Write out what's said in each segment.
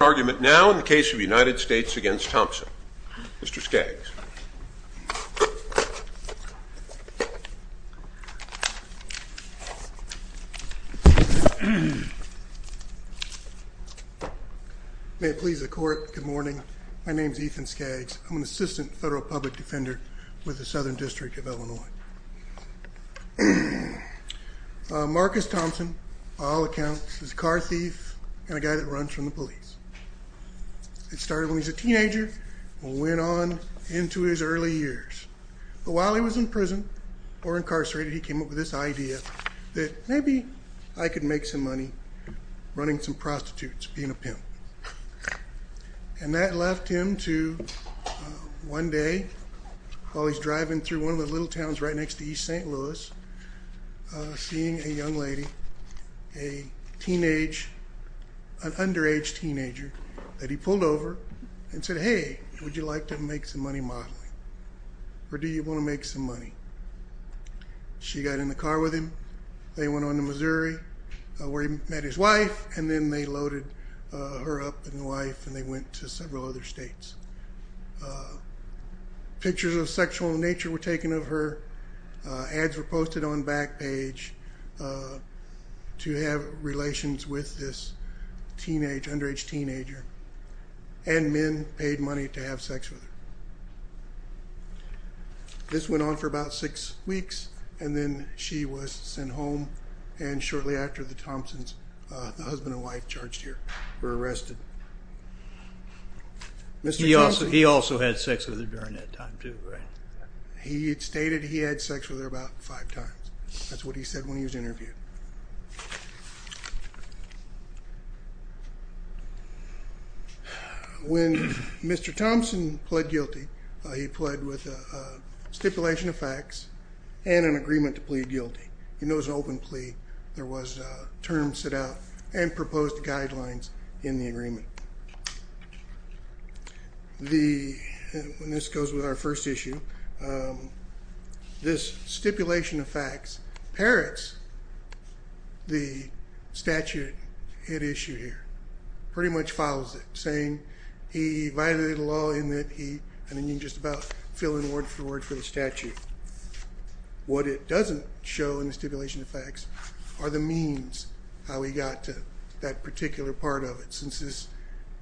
argument now in the case of United States against Thompson. Mr. Skaggs. May it please the court, good morning. My name is Ethan Skaggs. I'm an assistant federal public defender with the Southern District of Illinois. Marcus Thompson, by all accounts, is a car thief and a guy that runs from the police. It started when he was a teenager and went on into his early years. But while he was in prison or incarcerated, he came up with this idea that maybe I could make some money running some prostitutes, being a pimp. And that left him to one day, while he's driving through one of the little towns right next to East St. Louis, seeing a young lady, a teenage, an underage teenager, that he pulled over and said, hey, would you like to make some money modeling? Or do you want to make some money? She got in the car with him. They went on to Missouri where he met his wife and then they loaded her up and the wife and they went to several other on back page to have relations with this teenage, underage teenager. And men paid money to have sex with her. This went on for about six weeks and then she was sent home. And shortly after, the Thompsons, the husband and wife, charged here, were arrested. He also had sex with her during that time too, right? He had stated he had sex with her about five times. That's what he said when he was interviewed. When Mr Thompson pled guilty, he pled with a stipulation of facts and an agreement to plead guilty. You know, it was an open plea. There was a term set out and proposed guidelines in the agreement. The, when this goes with our first issue, this stipulation of facts parrots the statute at issue here. Pretty much follows it, saying he violated the law in that he, and then you just about fill in word for word for the statute. What it doesn't show in the stipulation of facts are the means how he got to that particular part of it. Since this,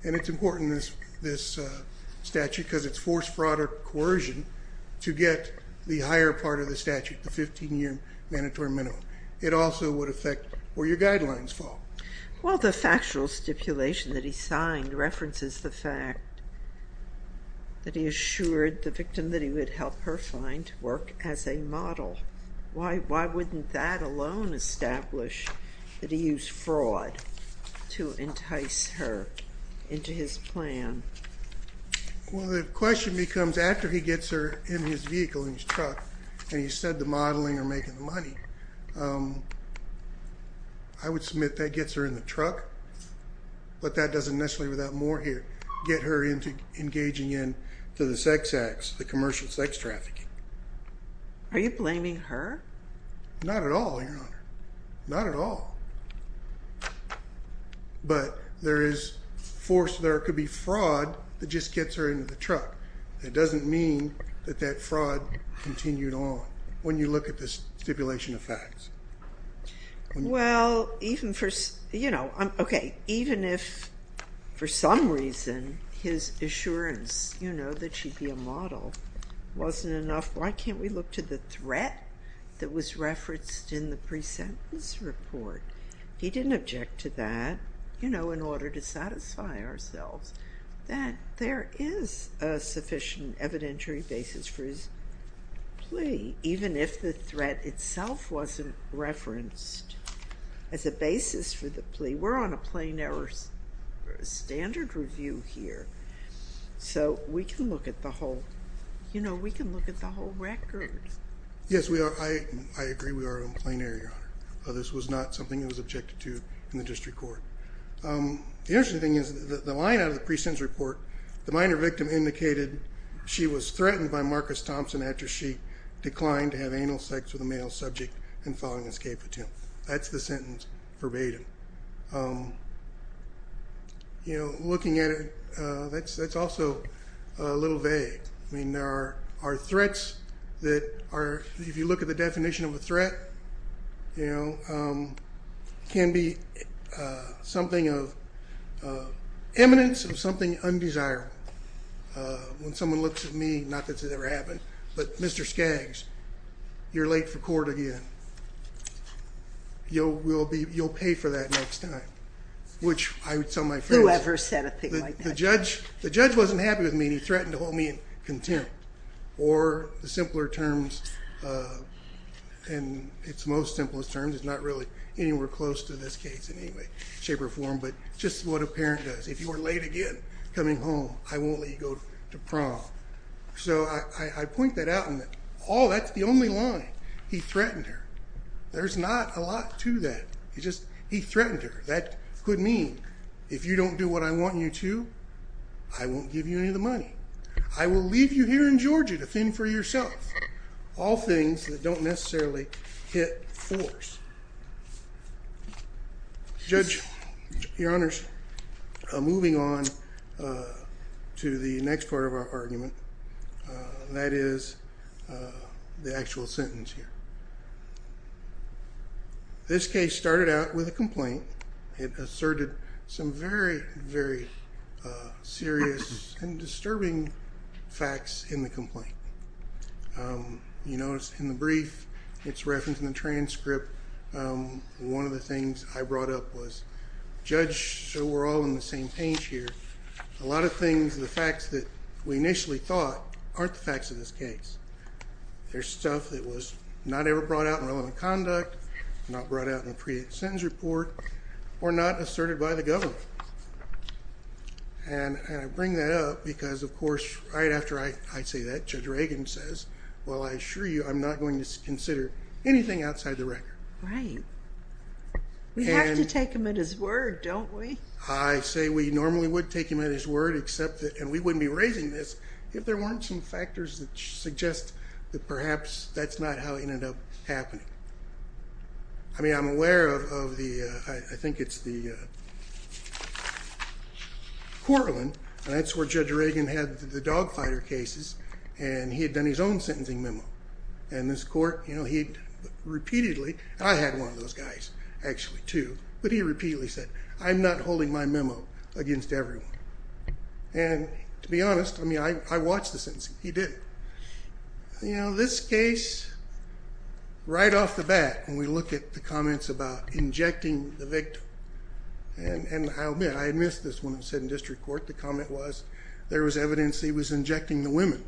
and it's important, this statute, because it's forced fraud or coercion to get the higher part of the statute, the 15 year mandatory minimum. It also would affect where your guidelines fall. Well, the factual stipulation that he signed references the fact that he assured the victim that he would help her find work as a model. Why wouldn't that alone establish that he used fraud to entice her into his plan? Well, the question becomes after he gets her in his vehicle in his truck and he said the modeling or making the money, I would submit that gets her in the truck, but that doesn't necessarily without more here, get her into engaging in to the sex acts, the commercial sex trafficking. Are you blaming her? Not at all, Your Honor. Not at all. But there is force, there could be fraud that just gets her into the truck. It doesn't mean that that fraud continued on when you look at this stipulation of facts. Well, even for... Okay, even if for some reason, his assurance that she'd be a model wasn't enough, why can't we look to the threat that was referenced in the presentence report? He didn't object to that in order to satisfy ourselves that there is a sufficient evidentiary basis for his plea, even if the threat itself wasn't referenced as a basis for the plea. We're on a plain error standard review here, so we can look at the whole... We can look at the whole record. Yes, we are. I agree, we are on a plain error, Your Honor. This was not something that was objected to in the district court. The interesting thing is that the line out of the presentence report, the minor victim indicated she was threatened by Marcus Thompson after she declined to have anal sex with a male subject and filed an escape attempt. That's the sentence verbatim. Looking at it, that's also a little vague. I mean, there are threats that are... If you look at the definition of a threat, can be something of eminence or something undesirable. When someone looks at me, not that it ever happened, but Mr. Skaggs, you're late for court again. You'll pay for that next time, which I would tell my friends... Whoever said a thing like that. The judge wasn't happy with me and he threatened to hold me in contempt. Or the simpler terms, and it's the most simplest terms, it's not really anywhere close to this case in any way, shape, or form, but just what a parent does. If you are late again coming home, I won't let you go to prom. So I point that out and that's the only line. He threatened her. There's not a lot to that. He threatened her. That could mean, if you don't do what I want you to, I won't give you any of the money. I will leave you here in Georgia to fend for yourself. All things that don't necessarily hit force. Judge, Your Honors, moving on to the next part of our argument, that is the actual sentence here. This case started out with a complaint. It asserted some very, very serious and disturbing facts in the complaint. You notice in the brief, it's referenced in the transcript. One of the things I brought up was, Judge, so we're all on the same page here, a lot of things, the facts that we initially thought aren't the facts of this case. There's stuff that was not ever brought out in relevant conduct, not brought out in the pre sentence report, or not asserted by the government. And I bring that up because, of course, right after I say that, Judge Reagan says, well, I assure you, I'm not going to consider anything outside the record. Right. We have to take him at his word, don't we? I say we normally would take him at his word, except that... And we wouldn't be raising this if there weren't some factors that suggest that perhaps that's not how it ended up happening. I mean, I'm aware of the... I think it's the Cortland, and that's where Judge Reagan had the dogfighter cases, and he had done his own sentencing memo. And this court, he repeatedly... I had one of those guys, actually, too, but he repeatedly said, I'm not holding my memo against everyone. And to be honest, I mean, I watched the sentencing, he didn't. This case, right off the bat, when we look at the comments about injecting the victim, and I admit, I missed this one, it said in district court, the comment was, there was evidence he was injecting the women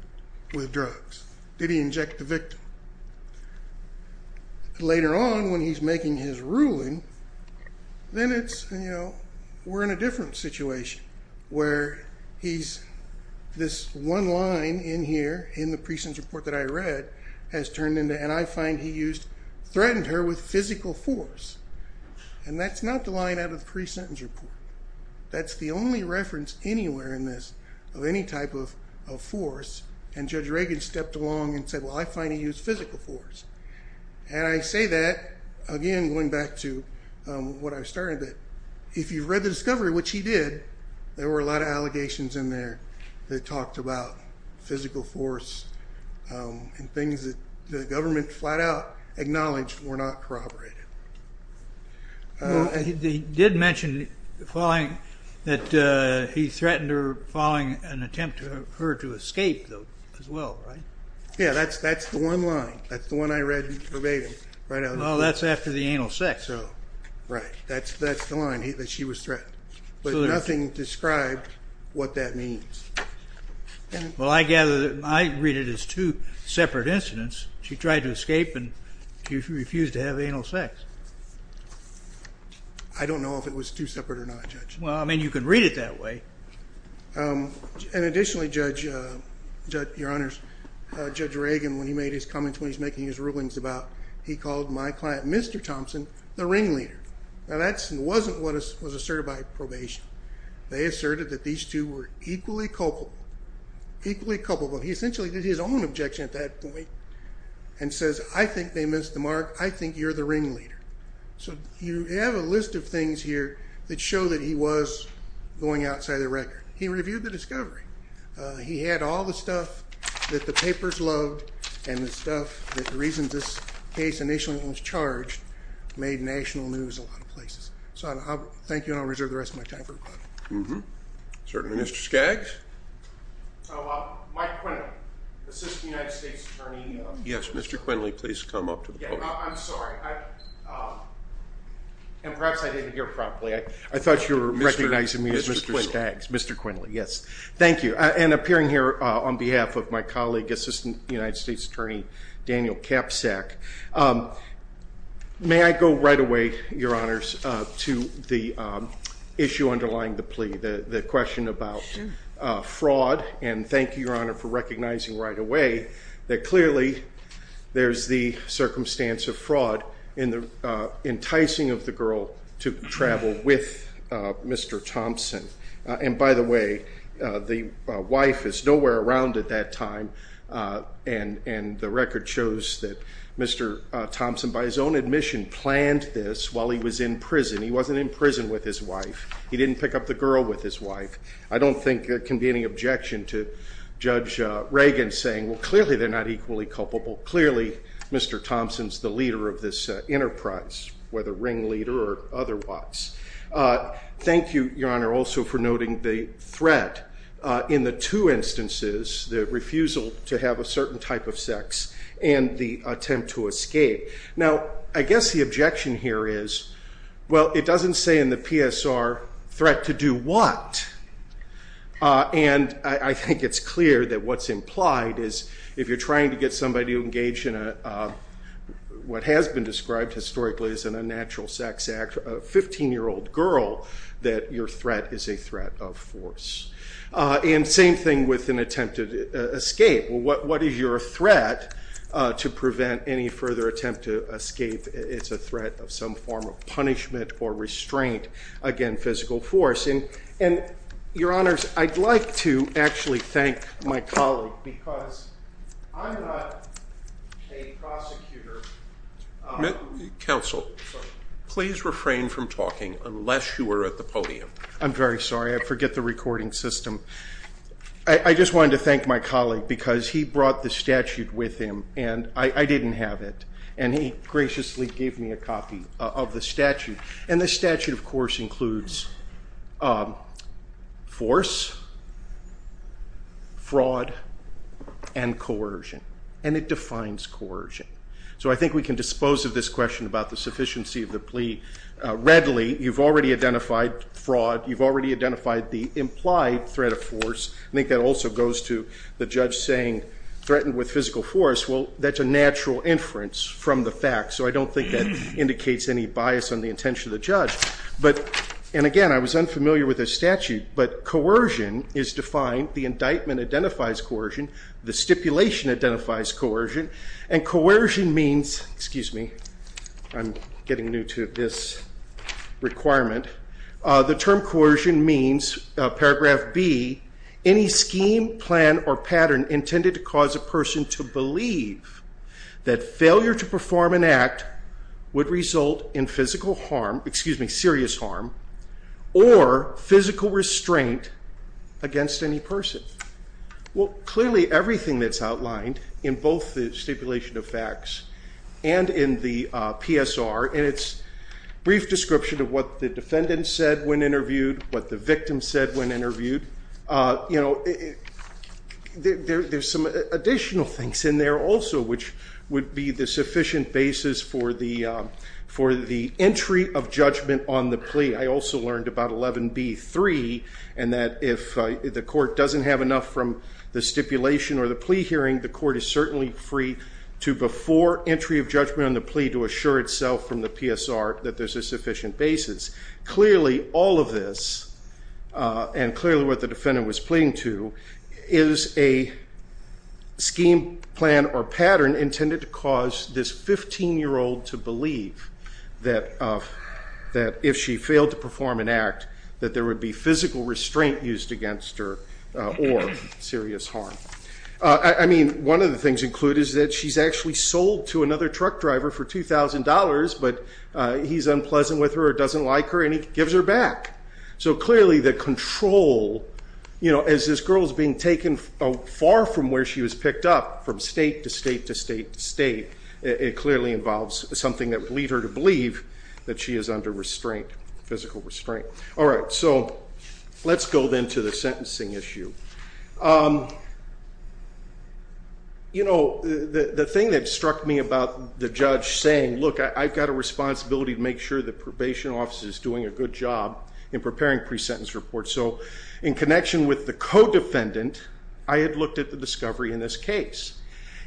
with drugs. Did he inject the victim? Later on, when he's making his ruling, then it's... We're in a different situation, where he's... This one line in here, in the pre sentence report that I read, has turned into, and I find he used, threatened her with physical force. And that's not the line out of the pre sentence report. That's the only reference anywhere in this of any type of force, and Judge Reagan stepped along and said, well, I find he used physical force. And I say that, again, going back to what I started, that if you read the discovery, which he did, there were a lot of allegations in there that talked about physical force and things that the government flat out acknowledged were not corroborated. Well, he did mention that he threatened her following an attempt for her to escape, though, as well, right? Yeah, that's the one line. That's the one I read verbatim. Well, that's after the anal sex. Right, that's the first threat, but nothing described what that means. Well, I gather that... I read it as two separate incidents. She tried to escape and she refused to have anal sex. I don't know if it was two separate or not, Judge. Well, I mean, you can read it that way. And additionally, Judge... Your Honors, Judge Reagan, when he made his comments when he's making his rulings about... He called my client, Mr. Thompson, the ringleader. Now, that wasn't what was asserted by probation. They asserted that these two were equally culpable. Equally culpable. He essentially did his own objection at that point and says, I think they missed the mark. I think you're the ringleader. So you have a list of things here that show that he was going outside the record. He reviewed the discovery. He had all the stuff that the papers loved and the stuff that the case initially was charged made national news in a lot of places. So I'll thank you and I'll reserve the rest of my time for rebuttal. Certainly. Mr. Skaggs? Mike Quindle, Assistant United States Attorney... Yes, Mr. Quindle, please come up to the podium. I'm sorry. And perhaps I didn't hear properly. I thought you were recognizing me as Mr. Skaggs. Mr. Quindle, yes. Thank you. And appearing here on behalf of my colleague, Assistant United States Attorney, Daniel Kapsack. May I go right away, Your Honors, to the issue underlying the plea, the question about fraud. And thank you, Your Honor, for recognizing right away that clearly there's the circumstance of fraud in the enticing of the girl to travel with Mr. Thompson. And by the way, the wife is nowhere around at that time. And the record shows that Mr. Thompson, by his own admission, planned this while he was in prison. He wasn't in prison with his wife. He didn't pick up the girl with his wife. I don't think there can be any objection to Judge Reagan saying, well, clearly they're not equally culpable. Clearly, Mr. Thompson's the leader of this enterprise, whether ring leader or otherwise. Thank you, Your Honor, also for noting the threat. In the two instances, the refusal to have a certain type of sex and the attempt to escape. Now, I guess the objection here is, well, it doesn't say in the PSR, threat to do what? And I think it's clear that what's implied is if you're trying to get somebody to engage in what has been described historically as an unnatural sex act, a 15-year-old girl, that your threat is a threat of force. And same thing with an attempted escape. Well, what is your threat to prevent any further attempt to escape? It's a threat of some form of punishment or restraint against physical force. And, Your Honors, I'd like to actually thank my colleague, because I'm not a prosecutor... Counsel, please refrain from talking unless you are at the podium. I'm very sorry. I forget the recording system. I just wanted to thank my colleague, because he brought the statute with him, and I didn't have it. And he graciously gave me a copy of the statute. And the statute, of course, includes force, fraud, and coercion. And it defines coercion. So I think we can dispose of this question about the sufficiency of the law. You've already identified the implied threat of force. I think that also goes to the judge saying threatened with physical force. Well, that's a natural inference from the facts. So I don't think that indicates any bias on the intention of the judge. But, and again, I was unfamiliar with this statute, but coercion is defined. The indictment identifies coercion. The stipulation identifies coercion. And coercion means, excuse me, I'm getting new to this requirement, the term coercion means, paragraph B, any scheme, plan, or pattern intended to cause a person to believe that failure to perform an act would result in physical harm, excuse me, serious harm, or physical restraint against any person. Well, clearly everything that's outlined in both the PSR and its brief description of what the defendant said when interviewed, what the victim said when interviewed, there's some additional things in there also, which would be the sufficient basis for the entry of judgment on the plea. I also learned about 11b.3, and that if the court doesn't have enough from the stipulation or the plea hearing, the court is certainly free to, before entry of judgment on the plea, to assure itself from the PSR that there's a sufficient basis. Clearly, all of this, and clearly what the defendant was pleading to, is a scheme, plan, or pattern intended to cause this 15-year-old to believe that if she failed to perform an act, that there would be physical restraint used against her, or serious harm. I mean, one of the things included is that she's actually sold to another truck driver for $2,000, but he's unpleasant with her or doesn't like her, and he gives her back. So clearly the control, you know, as this girl is being taken far from where she was picked up, from state to state to state to state, it clearly involves something that would lead her to believe that she is under restraint, physical restraint. All right, so let's go then to the sentencing issue. You know, the thing that struck me about the judge saying, look, I've got a responsibility to make sure the probation office is doing a good job in preparing pre-sentence reports. So in connection with the co-defendant, I had looked at the discovery in this case,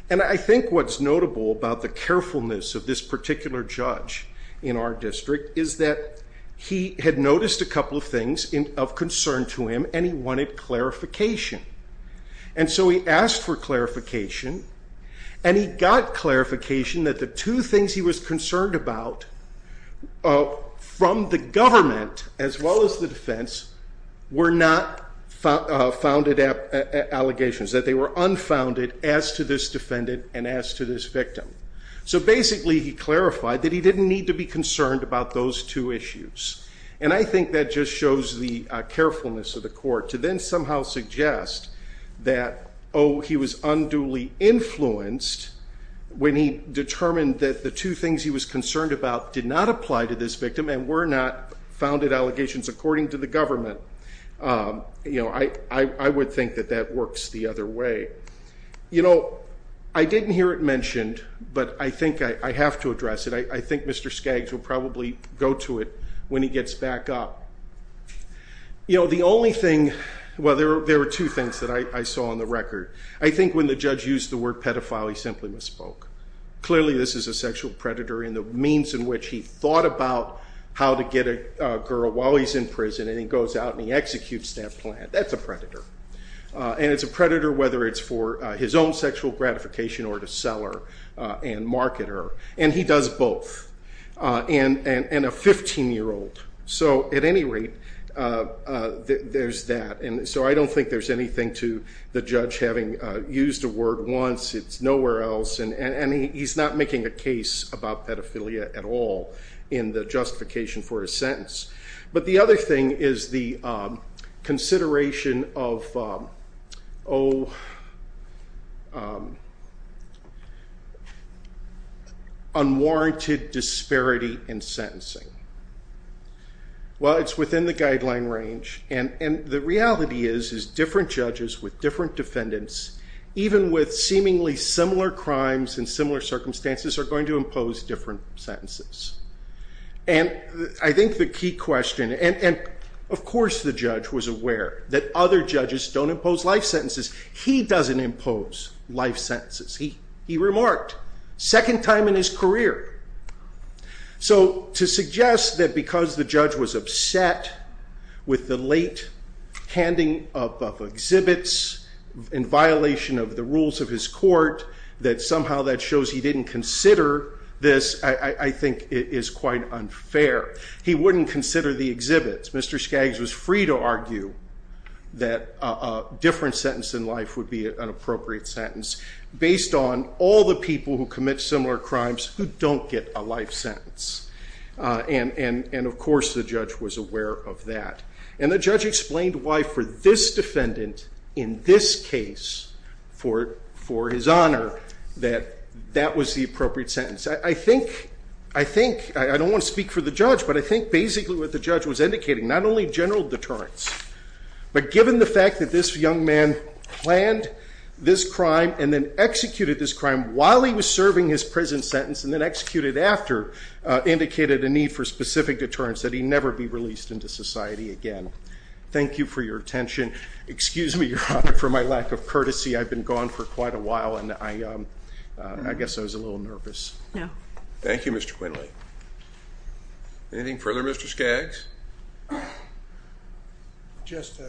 and I think what's notable about the carefulness of this particular judge in our district is that he had noticed a couple of things of concern to him, and he wanted clarification. And so he asked for clarification, and he got clarification that the two things he was concerned about from the government, as well as the defense, were not founded allegations, that they were unfounded as to this defendant and as to this victim. So basically he clarified that he didn't need to be concerned about those two issues. And I think that just shows the carefulness of the court to then somehow suggest that, oh, he was unduly influenced when he determined that the two things he was concerned about did not apply to this victim and were not founded allegations according to the government. You know, I would think that that works the other way. You know, I think Mr. Skaggs will probably go to it when he gets back up. You know, the only thing, well, there were two things that I saw on the record. I think when the judge used the word pedophile, he simply misspoke. Clearly this is a sexual predator in the means in which he thought about how to get a girl while he's in prison, and he goes out and he executes that plan. That's a predator. And it's a predator whether it's for his own sexual gratification or to sell her and market her. And he does both. And a 15-year-old. So at any rate, there's that. And so I don't think there's anything to the judge having used a word once. It's nowhere else. And he's not making a case about pedophilia at all in the unwarranted disparity in sentencing. Well, it's within the guideline range. And the reality is, is different judges with different defendants, even with seemingly similar crimes and similar circumstances, are going to impose different sentences. And I think the key question, and of course the judge was aware that other judges don't impose life sentences. He doesn't impose life sentences. He didn't in his career. So to suggest that because the judge was upset with the late handing up of exhibits in violation of the rules of his court, that somehow that shows he didn't consider this, I think it is quite unfair. He wouldn't consider the exhibits. Mr. Skaggs was free to argue that a different sentence in life would be an appropriate sentence based on all the people who commit similar crimes who don't get a life sentence. And of course the judge was aware of that. And the judge explained why for this defendant in this case, for for his honor, that that was the appropriate sentence. I think, I think, I don't want to speak for the judge, but I think basically what the judge was indicating, not only general deterrence, but given the fact that this young man planned this crime and then executed this crime while he was serving his prison sentence, and then executed after, indicated a need for specific deterrence that he never be released into society again. Thank you for your attention. Excuse me, your honor, for my lack of courtesy. I've been gone for quite a while and I guess I was a little nervous. Thank you, Mr. Quinley. Anything Just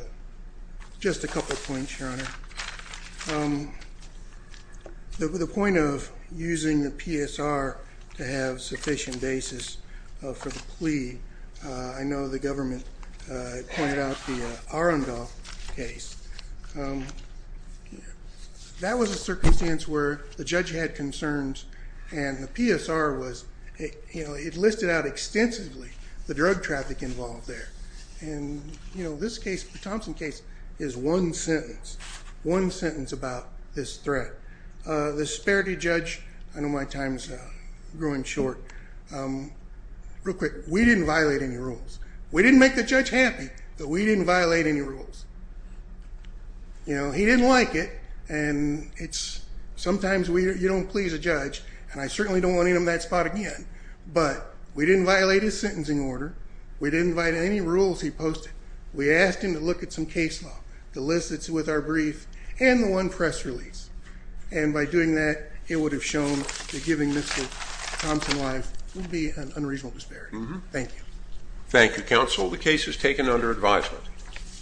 a couple points, your honor. The point of using the PSR to have sufficient basis for the plea, I know the government pointed out the Arundel case. That was a circumstance where the judge had concerns and the PSR was, you know, it listed out extensively the drug traffic involved there. And, you know, this case, the Thompson case, is one sentence, one sentence about this threat. The disparity judge, I know my time is growing short, real quick, we didn't violate any rules. We didn't make the judge happy, but we didn't violate any rules. You know, he didn't like it and it's, sometimes we, you don't please a judge, and I certainly don't want him in that spot again, but we didn't violate his sentencing order. We didn't violate any rules he posted. We asked him to look at some case law, the list that's with our brief, and the one press release. And by doing that, it would have shown that giving Mr. Thompson life would be an unreasonable disparity. Thank you. Thank you, counsel. The case is taken under advisement.